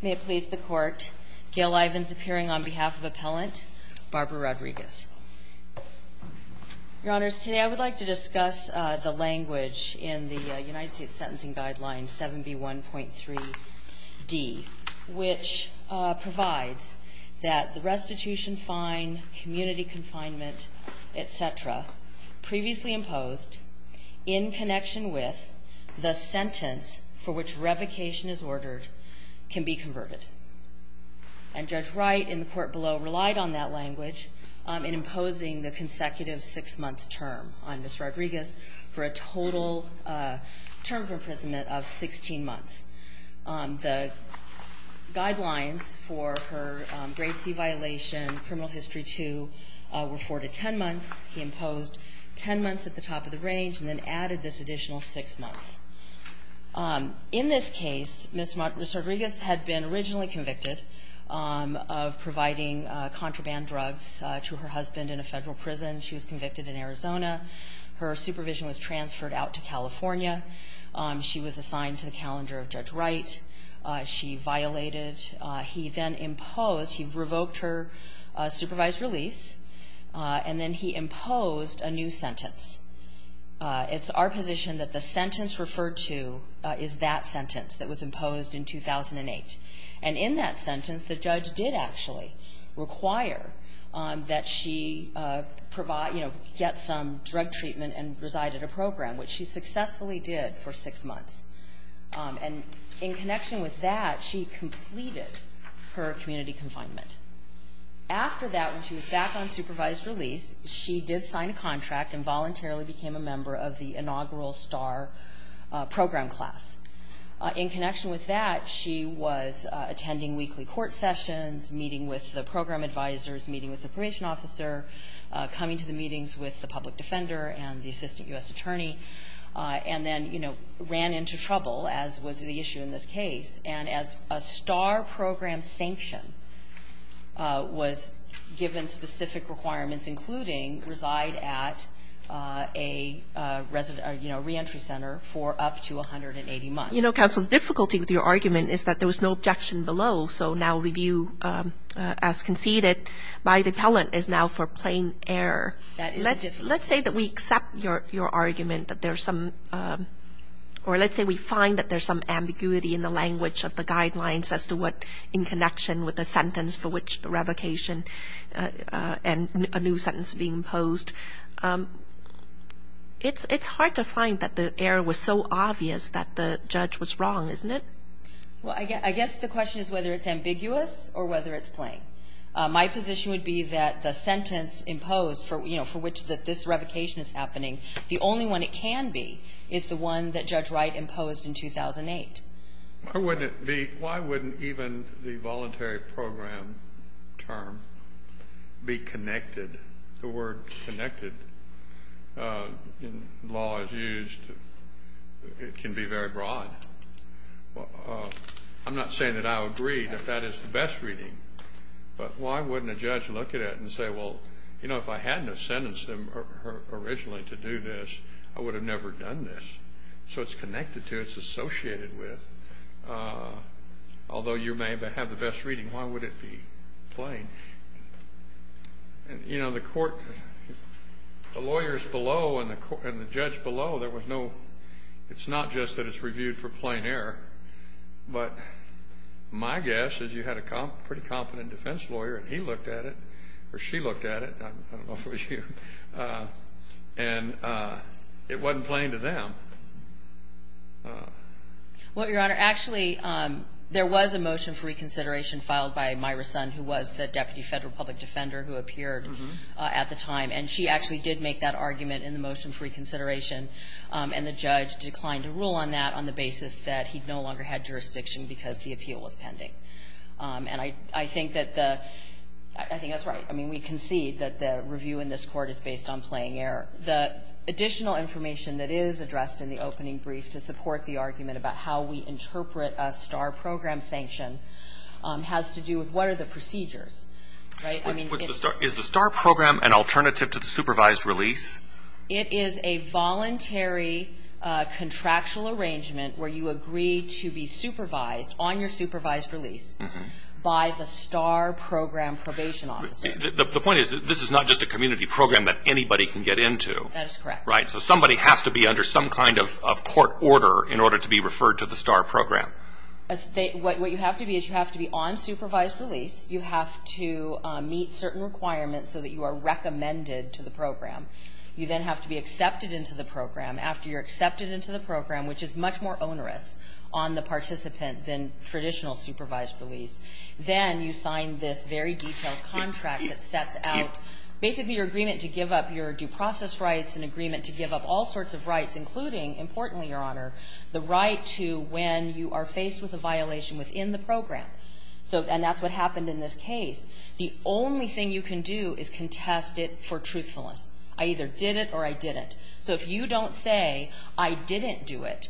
May it please the Court, Gail Ivins appearing on behalf of Appellant Barbara Rodriguez. Your Honors, today I would like to discuss the language in the United States Sentencing Guidelines 7B1.3d, which provides that the restitution fine, community confinement, etc., previously imposed in connection with the sentence for which revocation is ordered can be converted. And Judge Wright in the Court below relied on that language in imposing the consecutive six-month term on Ms. Rodriguez for a total term of imprisonment of 16 months. The guidelines for her Grade C violation, Criminal History 2, were four to ten months. He imposed ten months at the top of the range and then added this additional six months. In this case, Ms. Rodriguez had been originally convicted of providing contraband drugs to her husband in a federal prison. She was convicted in Arizona. Her supervision was transferred out to California. She was assigned to the calendar of Judge Wright. She violated. He then imposed. He revoked her supervised release. And then he imposed a new sentence. It's our position that the sentence referred to is that sentence that was imposed in 2008. And in that sentence, the judge did actually require that she get some drug treatment and reside at a program, which she successfully did for six months. And in connection with that, she completed her community confinement. After that, when she was back on supervised release, she did sign a contract and voluntarily became a member of the inaugural STAR program class. In connection with that, she was attending weekly court sessions, meeting with the program advisors, meeting with the probation officer, coming to the meetings with the public defender and the assistant U.S. attorney, and then, you know, ran into trouble, as was the issue in this case. And as a STAR program sanction was given specific requirements, including reside at a resident, you know, reentry center for up to 180 months. You know, counsel, the difficulty with your argument is that there was no objection below. So now review as conceded by the appellant is now for plain error. Let's say that we accept your argument that there's some or let's say we find that there's some ambiguity in the language of the guidelines as to what in connection with the sentence for which the revocation and a new sentence being imposed. It's hard to find that the error was so obvious that the judge was wrong, isn't it? Well, I guess the question is whether it's ambiguous or whether it's plain. My position would be that the sentence imposed for, you know, for which this revocation is happening, the only one it can be is the one that Judge Wright imposed in 2008. Why wouldn't it be? Why wouldn't even the voluntary program term be connected? The word connected in law is used. It can be very broad. I'm not saying that I agree that that is the best reading, but why wouldn't a judge look at it and say, well, you know, if I hadn't have sentenced them originally to do this, I would have never done this. So it's connected to, it's associated with. Although you may have the best reading, why would it be plain? You know, the court, the lawyers below and the judge below, there was no, it's not just that it's reviewed for plain error, but my guess is you had a pretty competent defense lawyer and he looked at it, or she looked at it, I don't know if it was you, and it wasn't plain to them. Well, Your Honor, actually there was a motion for reconsideration filed by Myra Sun, who was the deputy federal public defender who appeared at the time, and she actually did make that argument in the motion for reconsideration. And the judge declined to rule on that on the basis that he no longer had jurisdiction because the appeal was pending. And I think that the, I think that's right. I mean, we concede that the review in this Court is based on plain error. The additional information that is addressed in the opening brief to support the argument about how we interpret a STAR program sanction has to do with what are the procedures. Right? I mean, it's the Is the STAR program an alternative to the supervised release? It is a voluntary contractual arrangement where you agree to be supervised on your supervised release by the STAR program probation officer. The point is this is not just a community program that anybody can get into. That is correct. Right? So somebody has to be under some kind of court order in order to be referred to the STAR program. What you have to be is you have to be on supervised release. You have to meet certain requirements so that you are recommended to the program. You then have to be accepted into the program. After you're accepted into the program, which is much more onerous on the participant than traditional supervised release, then you sign this very detailed contract that sets out basically your agreement to give up your due process rights, an agreement to give up all sorts of rights, including, importantly, Your Honor, the right to when you are faced with a violation within the program. And that's what happened in this case. The only thing you can do is contest it for truthfulness. I either did it or I didn't. So if you don't say I didn't do it,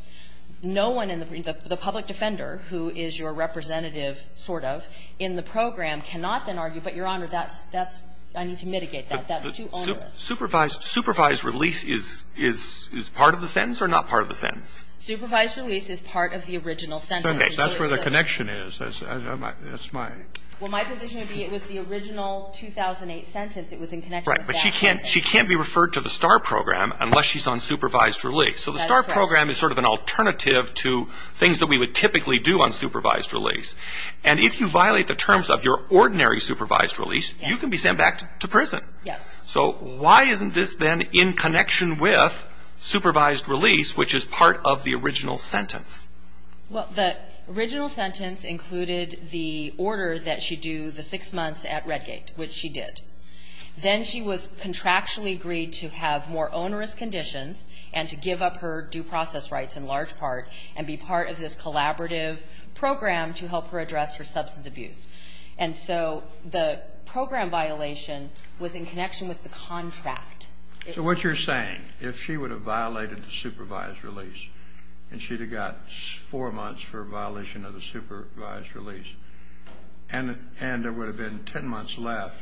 no one in the public defender who is your representative sort of in the program cannot then argue, but, Your Honor, that's, that's, I need to mitigate that. That's too onerous. Supervised release is part of the sentence or not part of the sentence? Supervised release is part of the original sentence. That's where the connection is. That's my. Well, my position would be it was the original 2008 sentence. It was in connection with that sentence. Right. But she can't, she can't be referred to the STAR Program unless she's on supervised release. That's correct. So the STAR Program is sort of an alternative to things that we would typically do on supervised release. And if you violate the terms of your ordinary supervised release, you can be sent back to prison. Yes. So why isn't this then in connection with supervised release, which is part of the original sentence? Well, the original sentence included the order that she do the six months at Redgate, which she did. Then she was contractually agreed to have more onerous conditions and to give up her due process rights in large part and be part of this collaborative program to help her address her substance abuse. And so the program violation was in connection with the contract. So what you're saying, if she would have violated the supervised release and she'd got four months for violation of the supervised release and there would have been ten months left,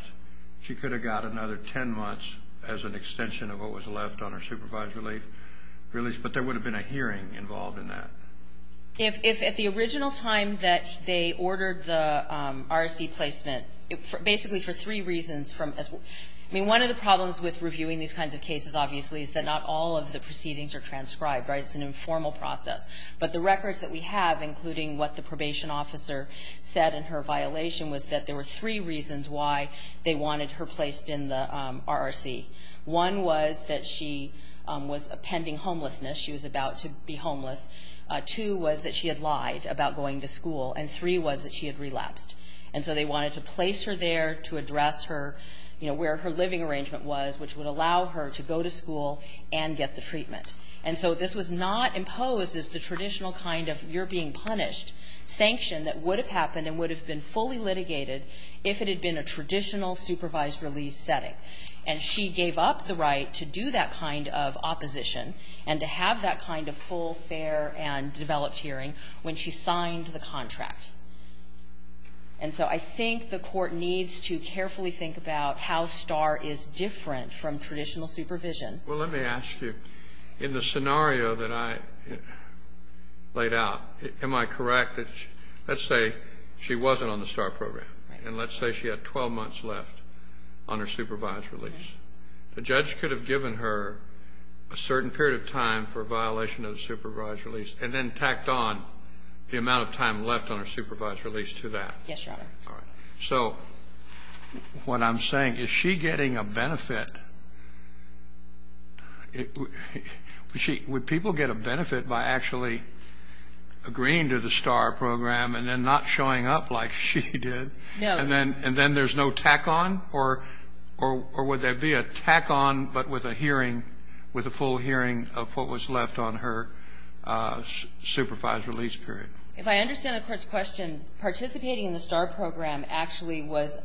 she could have got another ten months as an extension of what was left on her supervised release. But there would have been a hearing involved in that. If at the original time that they ordered the RSC placement, basically for three reasons from, I mean, one of the problems with reviewing these kinds of cases, obviously, is that not all of the proceedings are transcribed. Right. It's an informal process. But the records that we have, including what the probation officer said in her violation, was that there were three reasons why they wanted her placed in the RRC. One was that she was pending homelessness. She was about to be homeless. Two was that she had lied about going to school. And three was that she had relapsed. And so they wanted to place her there to address her, you know, where her living arrangement was, which would allow her to go to school and get the treatment. And so this was not imposed as the traditional kind of you're being punished sanction that would have happened and would have been fully litigated if it had been a traditional supervised release setting. And she gave up the right to do that kind of opposition and to have that kind of full, fair, and developed hearing when she signed the contract. And so I think the Court needs to carefully think about how Starr is different from traditional supervision. Well, let me ask you, in the scenario that I laid out, am I correct that let's say she wasn't on the Starr program. Right. And let's say she had 12 months left on her supervised release. Right. The judge could have given her a certain period of time for a violation of the supervised release and then tacked on the amount of time left on her supervised release to that. Yes, Your Honor. All right. So what I'm saying, is she getting a benefit? Would people get a benefit by actually agreeing to the Starr program and then not showing up like she did? No. And then there's no tack on? Or would there be a tack on but with a hearing, with a full hearing of what was left on her supervised release period? If I understand the Court's question, participating in the Starr program actually was,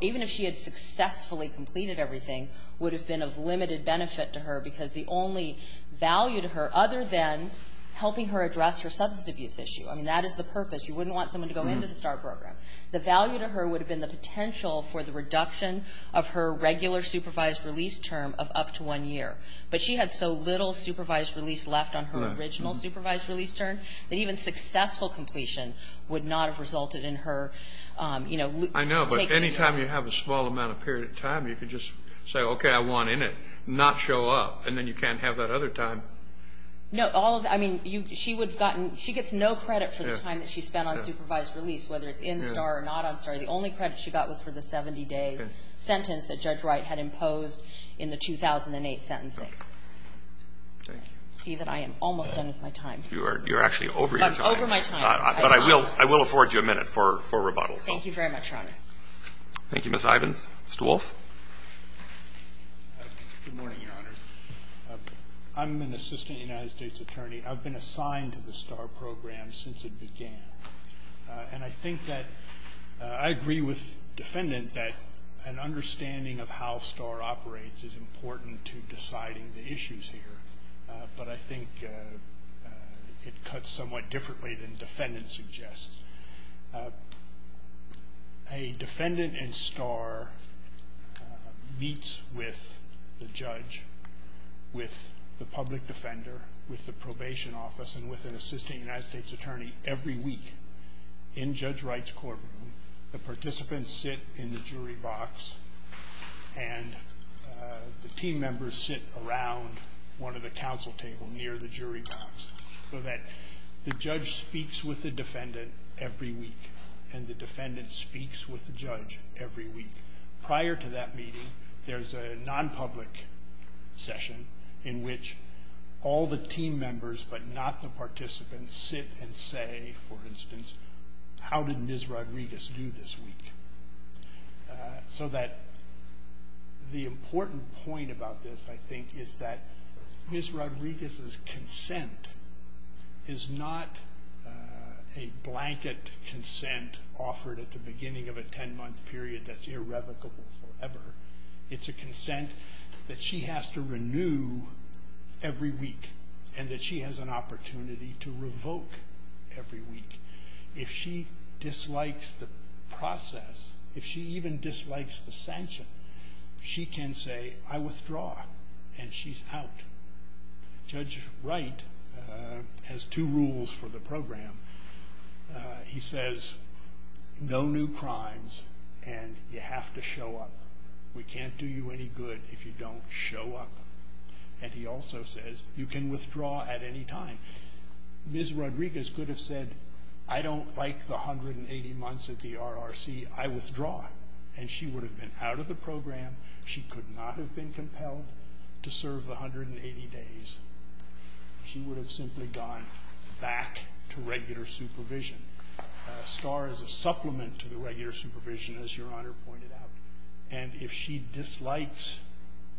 even if she had successfully completed everything, would have been of limited benefit to her because the only value to her, other than helping her address her substance abuse issue, I mean, that is the purpose. You wouldn't want someone to go into the Starr program. The value to her would have been the potential for the reduction of her regular supervised release term of up to one year. But she had so little supervised release left on her original supervised release term, that even successful completion would not have resulted in her, you know, taking it. I know. But any time you have a small amount of period of time, you could just say, okay, I want in it, not show up, and then you can't have that other time. No. I mean, she gets no credit for the time that she spent on supervised release, whether it's in Starr or not on Starr. The only credit she got was for the 70-day sentence that Judge Wright had imposed in the 2008 sentencing. Okay. Thank you. I'm going to see that I am almost done with my time. You're actually over your time. But I'm over my time. But I will afford you a minute for rebuttal. Thank you very much, Your Honor. Thank you, Ms. Ivins. Mr. Wolff? Good morning, Your Honors. I'm an assistant United States attorney. I've been assigned to the Starr program since it began. And I think that I agree with the defendant that an understanding of how Starr operates is important to deciding the issues here. But I think it cuts somewhat differently than defendants suggest. A defendant in Starr meets with the judge, with the public defender, with the probation office, and with an assistant United States attorney every week in Judge Wright's courtroom. The participants sit in the jury box, and the team members sit around one of the council tables near the jury box so that the judge speaks with the defendant every week, and the defendant speaks with the judge every week. Prior to that meeting, there's a nonpublic session in which all the team members but not the participants sit and say, for instance, how did Ms. Rodriguez do this week? So the important point about this, I think, is that Ms. Rodriguez's consent is not a blanket consent offered at the beginning of a 10-month period that's irrevocable forever. It's a consent that she has to renew every week and that she has an opportunity to revoke every week. If she dislikes the process, if she even dislikes the sanction, she can say, I withdraw, and she's out. Judge Wright has two rules for the program. He says, no new crimes, and you have to show up. We can't do you any good if you don't show up. And he also says, you can withdraw at any time. Ms. Rodriguez could have said, I don't like the 180 months at the RRC. I withdraw, and she would have been out of the program. She could not have been compelled to serve the 180 days. She would have simply gone back to regular supervision. Star is a supplement to the regular supervision, as Your Honor pointed out, and if she dislikes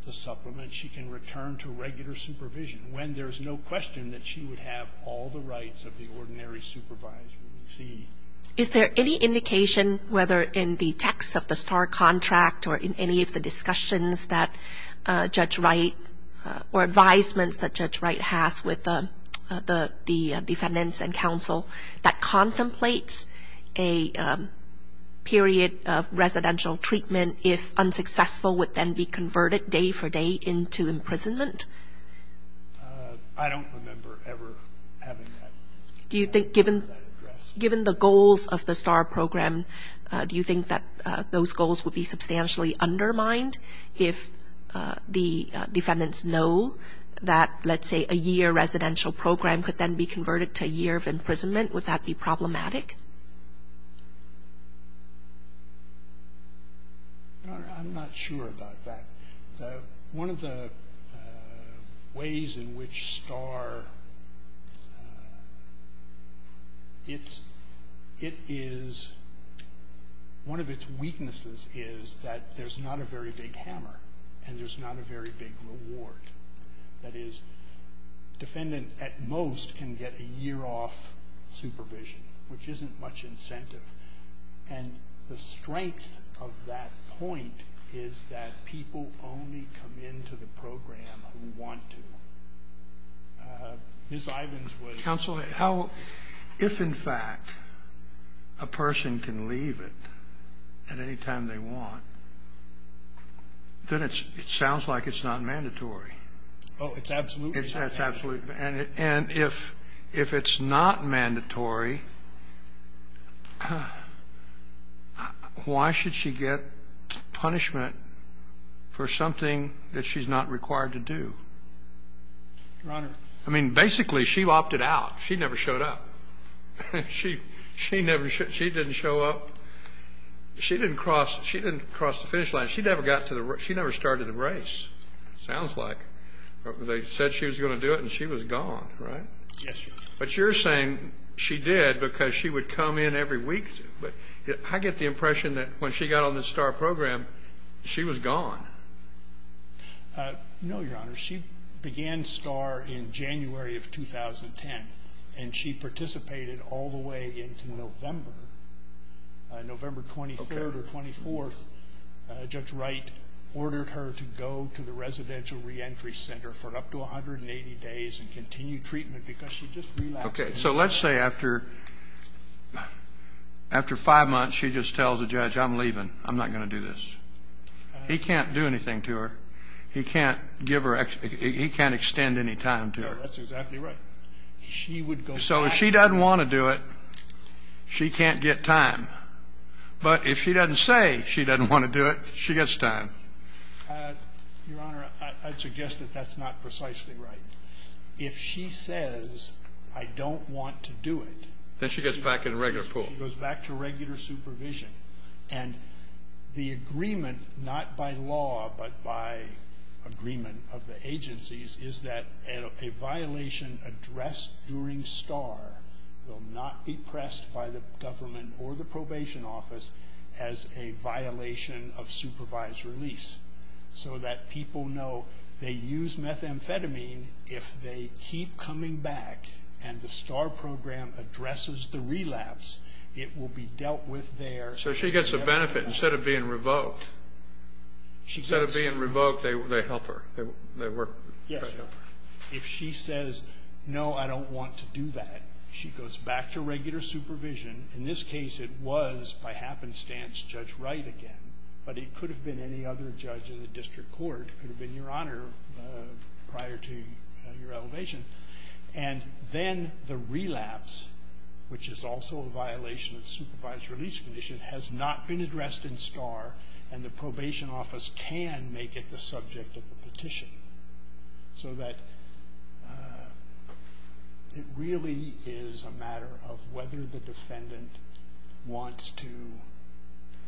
the supplement, she can return to regular supervision when there's no question that she would have all the rights of the ordinary supervisor. Is there any indication, whether in the text of the Star contract or in any of the discussions that Judge Wright or advisements that Judge Wright has with the defendants and counsel, that contemplates a period of residential treatment if unsuccessful would then be converted day for day into imprisonment? I don't remember ever having that addressed. Given the goals of the Star program, do you think that those goals would be substantially undermined if the defendants know that, let's say, a year residential program could then be converted to a year of imprisonment? Would that be problematic? I'm not sure about that. One of the ways in which Star, it is, one of its weaknesses is that there's not a very big hammer, and there's not a very big reward. That is, defendant at most can get a year off supervision, which isn't much incentive. And the strength of that point is that people only come into the program who want to. Ms. Ivins was ---- Counsel, if in fact a person can leave it at any time they want, then it sounds like it's not mandatory. Oh, it's absolutely not. It's absolutely. And if it's not mandatory, why should she get punishment for something that she's not required to do? Your Honor. I mean, basically, she opted out. She never showed up. She never ---- she didn't show up. She didn't cross the finish line. She never got to the race. She never started a race, sounds like. They said she was going to do it, and she was gone, right? Yes, Your Honor. But you're saying she did because she would come in every week. I get the impression that when she got on the Star program, she was gone. No, Your Honor. She began Star in January of 2010, and she participated all the way into November, November 23rd or 24th. Judge Wright ordered her to go to the residential reentry center for up to 180 days and continue treatment because she just relapsed. Okay. So let's say after five months she just tells the judge, I'm leaving. I'm not going to do this. He can't do anything to her. He can't give her ---- he can't extend any time to her. That's exactly right. She would go back. So if she doesn't want to do it, she can't get time. But if she doesn't say she doesn't want to do it, she gets time. Your Honor, I'd suggest that that's not precisely right. If she says, I don't want to do it. Then she gets back in the regular pool. She goes back to regular supervision. And the agreement, not by law but by agreement of the agencies, is that a violation addressed during Star will not be pressed by the government or the probation office as a violation of supervised release, so that people know they use methamphetamine. If they keep coming back and the Star program addresses the relapse, it will be dealt with there. So she gets a benefit instead of being revoked. Instead of being revoked, they help her. Yes. If she says, no, I don't want to do that, she goes back to regular supervision. In this case, it was, by happenstance, Judge Wright again. But it could have been any other judge in the district court. It could have been Your Honor prior to your elevation. And then the relapse, which is also a violation of the supervised release condition, has not been addressed in Star, and the probation office can make it the subject of a petition. So that it really is a matter of whether the defendant wants to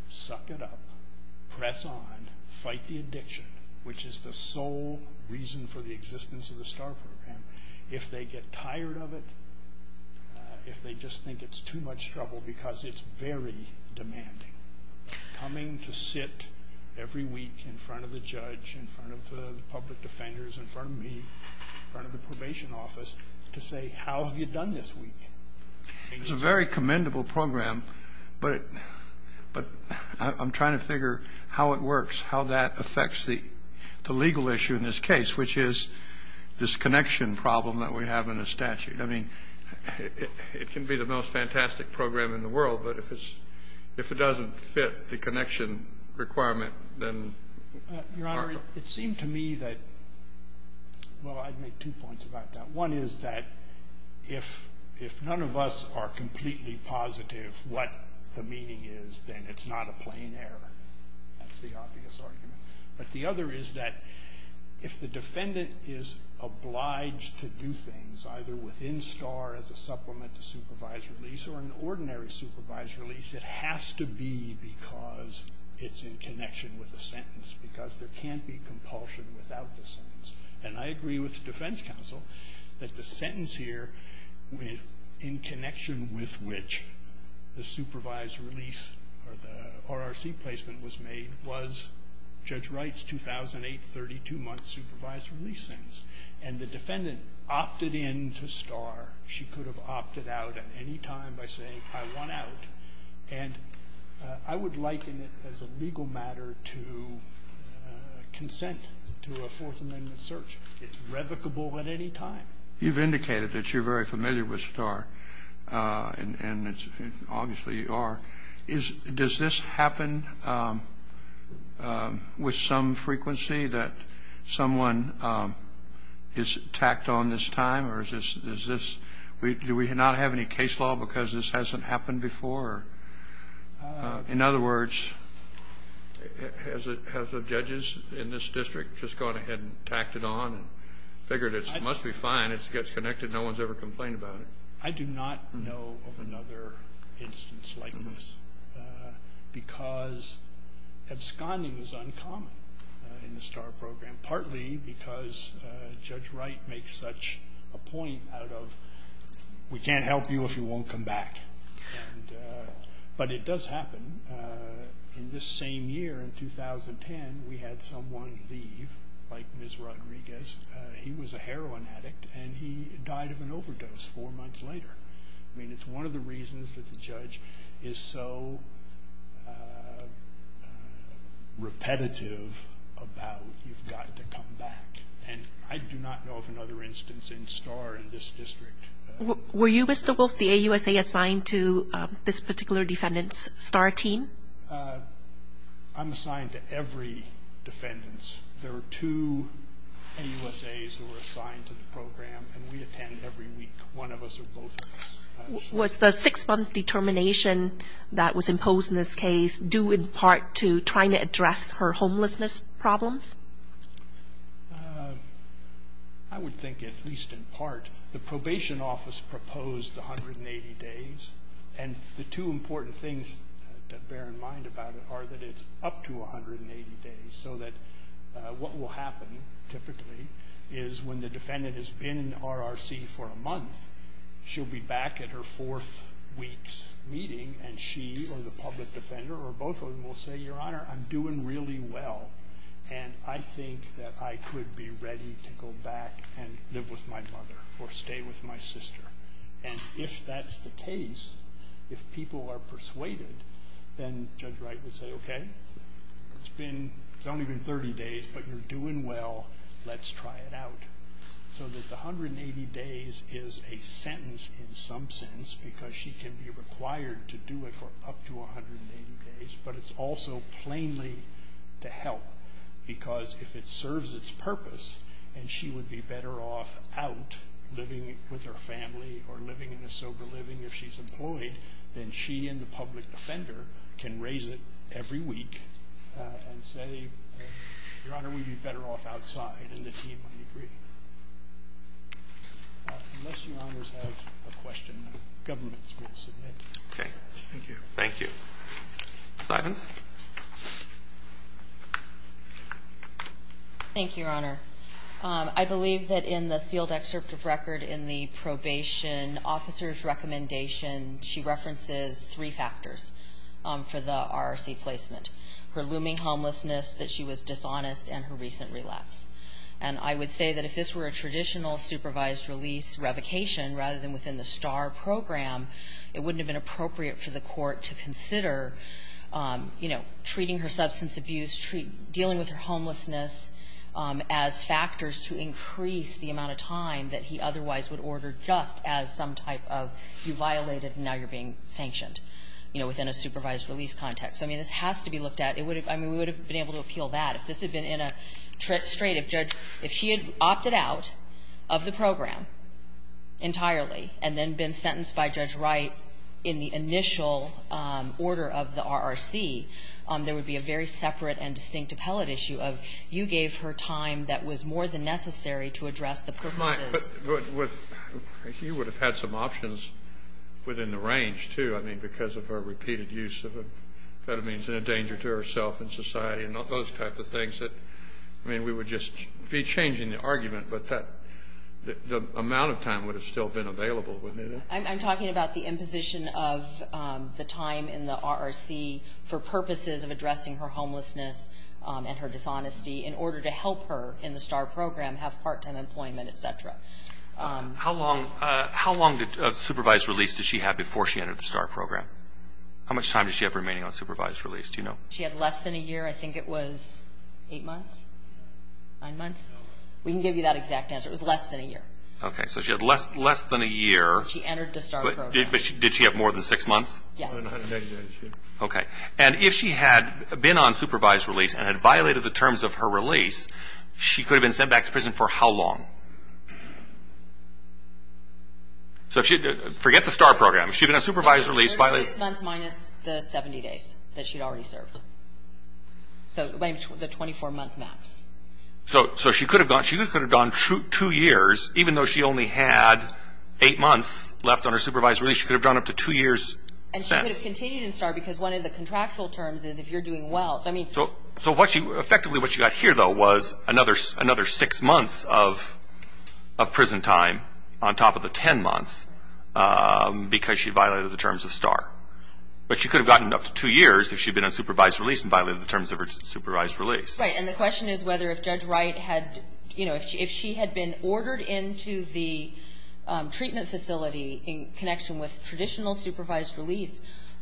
suck it up, press on, fight the addiction, which is the sole reason for the existence of the Star program. If they get tired of it, if they just think it's too much trouble, because it's very demanding, coming to sit every week in front of the judge, in front of the public defenders, in front of me, in front of the probation office, to say, how have you done this week? It's a very commendable program, but I'm trying to figure how it works, how that affects the legal issue in this case, which is this connection problem that we have in the statute. I mean, it can be the most fantastic program in the world, but if it's — if it doesn't fit the connection requirement, then it's harmful. Your Honor, it seemed to me that — well, I'd make two points about that. One is that if none of us are completely positive what the meaning is, then it's not a plain error. That's the obvious argument. But the other is that if the defendant is obliged to do things, either within Star as a supplement to supervised release, or an ordinary supervised release, it has to be because it's in connection with a sentence, because there can't be compulsion without the sentence. And I agree with the defense counsel that the sentence here, in connection with which the supervised release or the RRC placement was made, was Judge Wright's 2008, 32-month supervised release sentence. And the defendant opted in to Star. She could have opted out at any time by saying, I want out. And I would liken it as a legal matter to consent to a Fourth Amendment search. It's revocable at any time. You've indicated that you're very familiar with Star, and obviously you are. Does this happen with some frequency, that someone is tacked on this time? Or is this — do we not have any case law because this hasn't happened before? In other words, have the judges in this district just gone ahead and tacked it on and figured it must be fine, it gets connected, no one's ever complained about it? I do not know of another instance like this, because absconding is uncommon in the Star program, partly because Judge Wright makes such a point out of, we can't help you if you won't come back. But it does happen. In this same year, in 2010, we had someone leave, like Ms. Rodriguez. He was a heroin addict, and he died of an overdose four months later. I mean, it's one of the reasons that the judge is so repetitive about, you've got to come back. And I do not know of another instance in Star in this district. Were you, Mr. Wolfe, the AUSA assigned to this particular defendant's Star team? I'm assigned to every defendant's. There were two AUSAs who were assigned to the program, and we attend every week. One of us or both of us. Was the six-month determination that was imposed in this case due in part to trying to address her homelessness problems? I would think at least in part. The probation office proposed 180 days, and the two important things to bear in mind about it are that it's up to 180 days, so that what will happen typically is when the defendant has been in RRC for a month, she'll be back at her fourth week's meeting, and she or the public defender or both of them will say, Your Honor, I'm doing really well, and I think that I could be ready to go back and live with my mother or stay with my sister. And if that's the case, if people are persuaded, then Judge Wright would say, Okay, it's only been 30 days, but you're doing well. Let's try it out. So that the 180 days is a sentence in some sense because she can be required to do it for up to 180 days, but it's also plainly to help because if it serves its purpose, and she would be better off out living with her family or living in a sober living if she's employed, then she and the public defender can raise it every week and say, Your Honor, we'd be better off outside, and the team would agree. Unless Your Honors have a question, the government is going to submit. Okay. Thank you. Thank you. Sidons? Thank you, Your Honor. I believe that in the sealed excerpt of record in the probation officer's recommendation, she references three factors for the RRC placement, her looming homelessness, that she was dishonest, and her recent relapse. And I would say that if this were a traditional supervised release revocation rather than within the STAR program, it wouldn't have been appropriate for the court to consider treating her substance abuse, dealing with her homelessness as factors to increase the amount of time that he otherwise would order just as some type of, you violated and now you're being sanctioned, you know, within a supervised release context. I mean, this has to be looked at. I mean, we would have been able to appeal that. If this had been in a straight, if she had opted out of the program entirely and then been sentenced by Judge Wright in the initial order of the RRC, there would be a very separate and distinct appellate issue of, you gave her time that was more than necessary to address the purposes. But you would have had some options within the range, too. I mean, because of her repeated use of amphetamines and a danger to herself and society and those type of things that, I mean, we would just be changing the argument, but the amount of time would have still been available, wouldn't it? I'm talking about the imposition of the time in the RRC for purposes of addressing her homelessness and her dishonesty in order to help her in the STAR program have part-time employment, et cetera. How long of supervised release did she have before she entered the STAR program? How much time did she have remaining on supervised release? Do you know? She had less than a year. I think it was eight months, nine months. We can give you that exact answer. It was less than a year. Okay. So she had less than a year. But she entered the STAR program. Did she have more than six months? Yes. Okay. And if she had been on supervised release and had violated the terms of her release, she could have been sent back to prison for how long? Forget the STAR program. If she had been on supervised release, violated the terms of her release. Six months minus the 70 days that she had already served. So the 24-month max. So she could have gone two years, even though she only had eight months left on her supervised release. She could have gone up to two years. And she could have continued in STAR because one of the contractual terms is if you're doing well. So effectively what she got here, though, was another six months of prison time on top of the ten months because she violated the terms of STAR. But she could have gotten up to two years if she had been on supervised release and violated the terms of her supervised release. Right. And the question is whether if Judge Wright had, you know, if she had been ordered into the treatment facility in connection with traditional supervised release,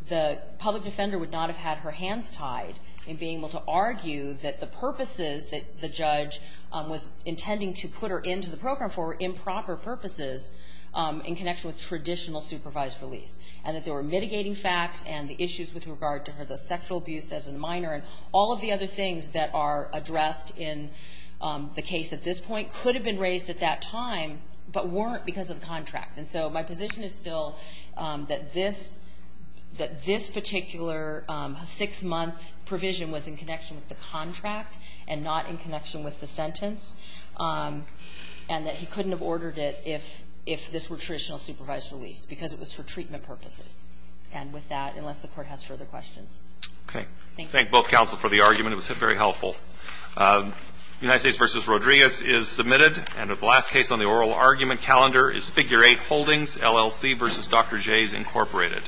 the public defender would not have had her hands tied in being able to argue that the purposes that the judge was intending to put her into the program for were improper purposes in connection with traditional supervised release, and that they were mitigating facts and the issues with regard to her, the sexual abuse as a minor, and all of the other things that are addressed in the case at this point could have been raised at that time but weren't because of the contract. And so my position is still that this particular six-month provision was in connection with the contract and not in connection with the sentence, and that he couldn't have ordered it if this were traditional supervised release because it was for treatment purposes. And with that, unless the Court has further questions. Okay. Thank you. Thank both counsel for the argument. It was very helpful. United States v. Rodriguez is submitted. And the last case on the oral argument calendar is Figure 8, Holdings, LLC v. Dr. Jays, Incorporated.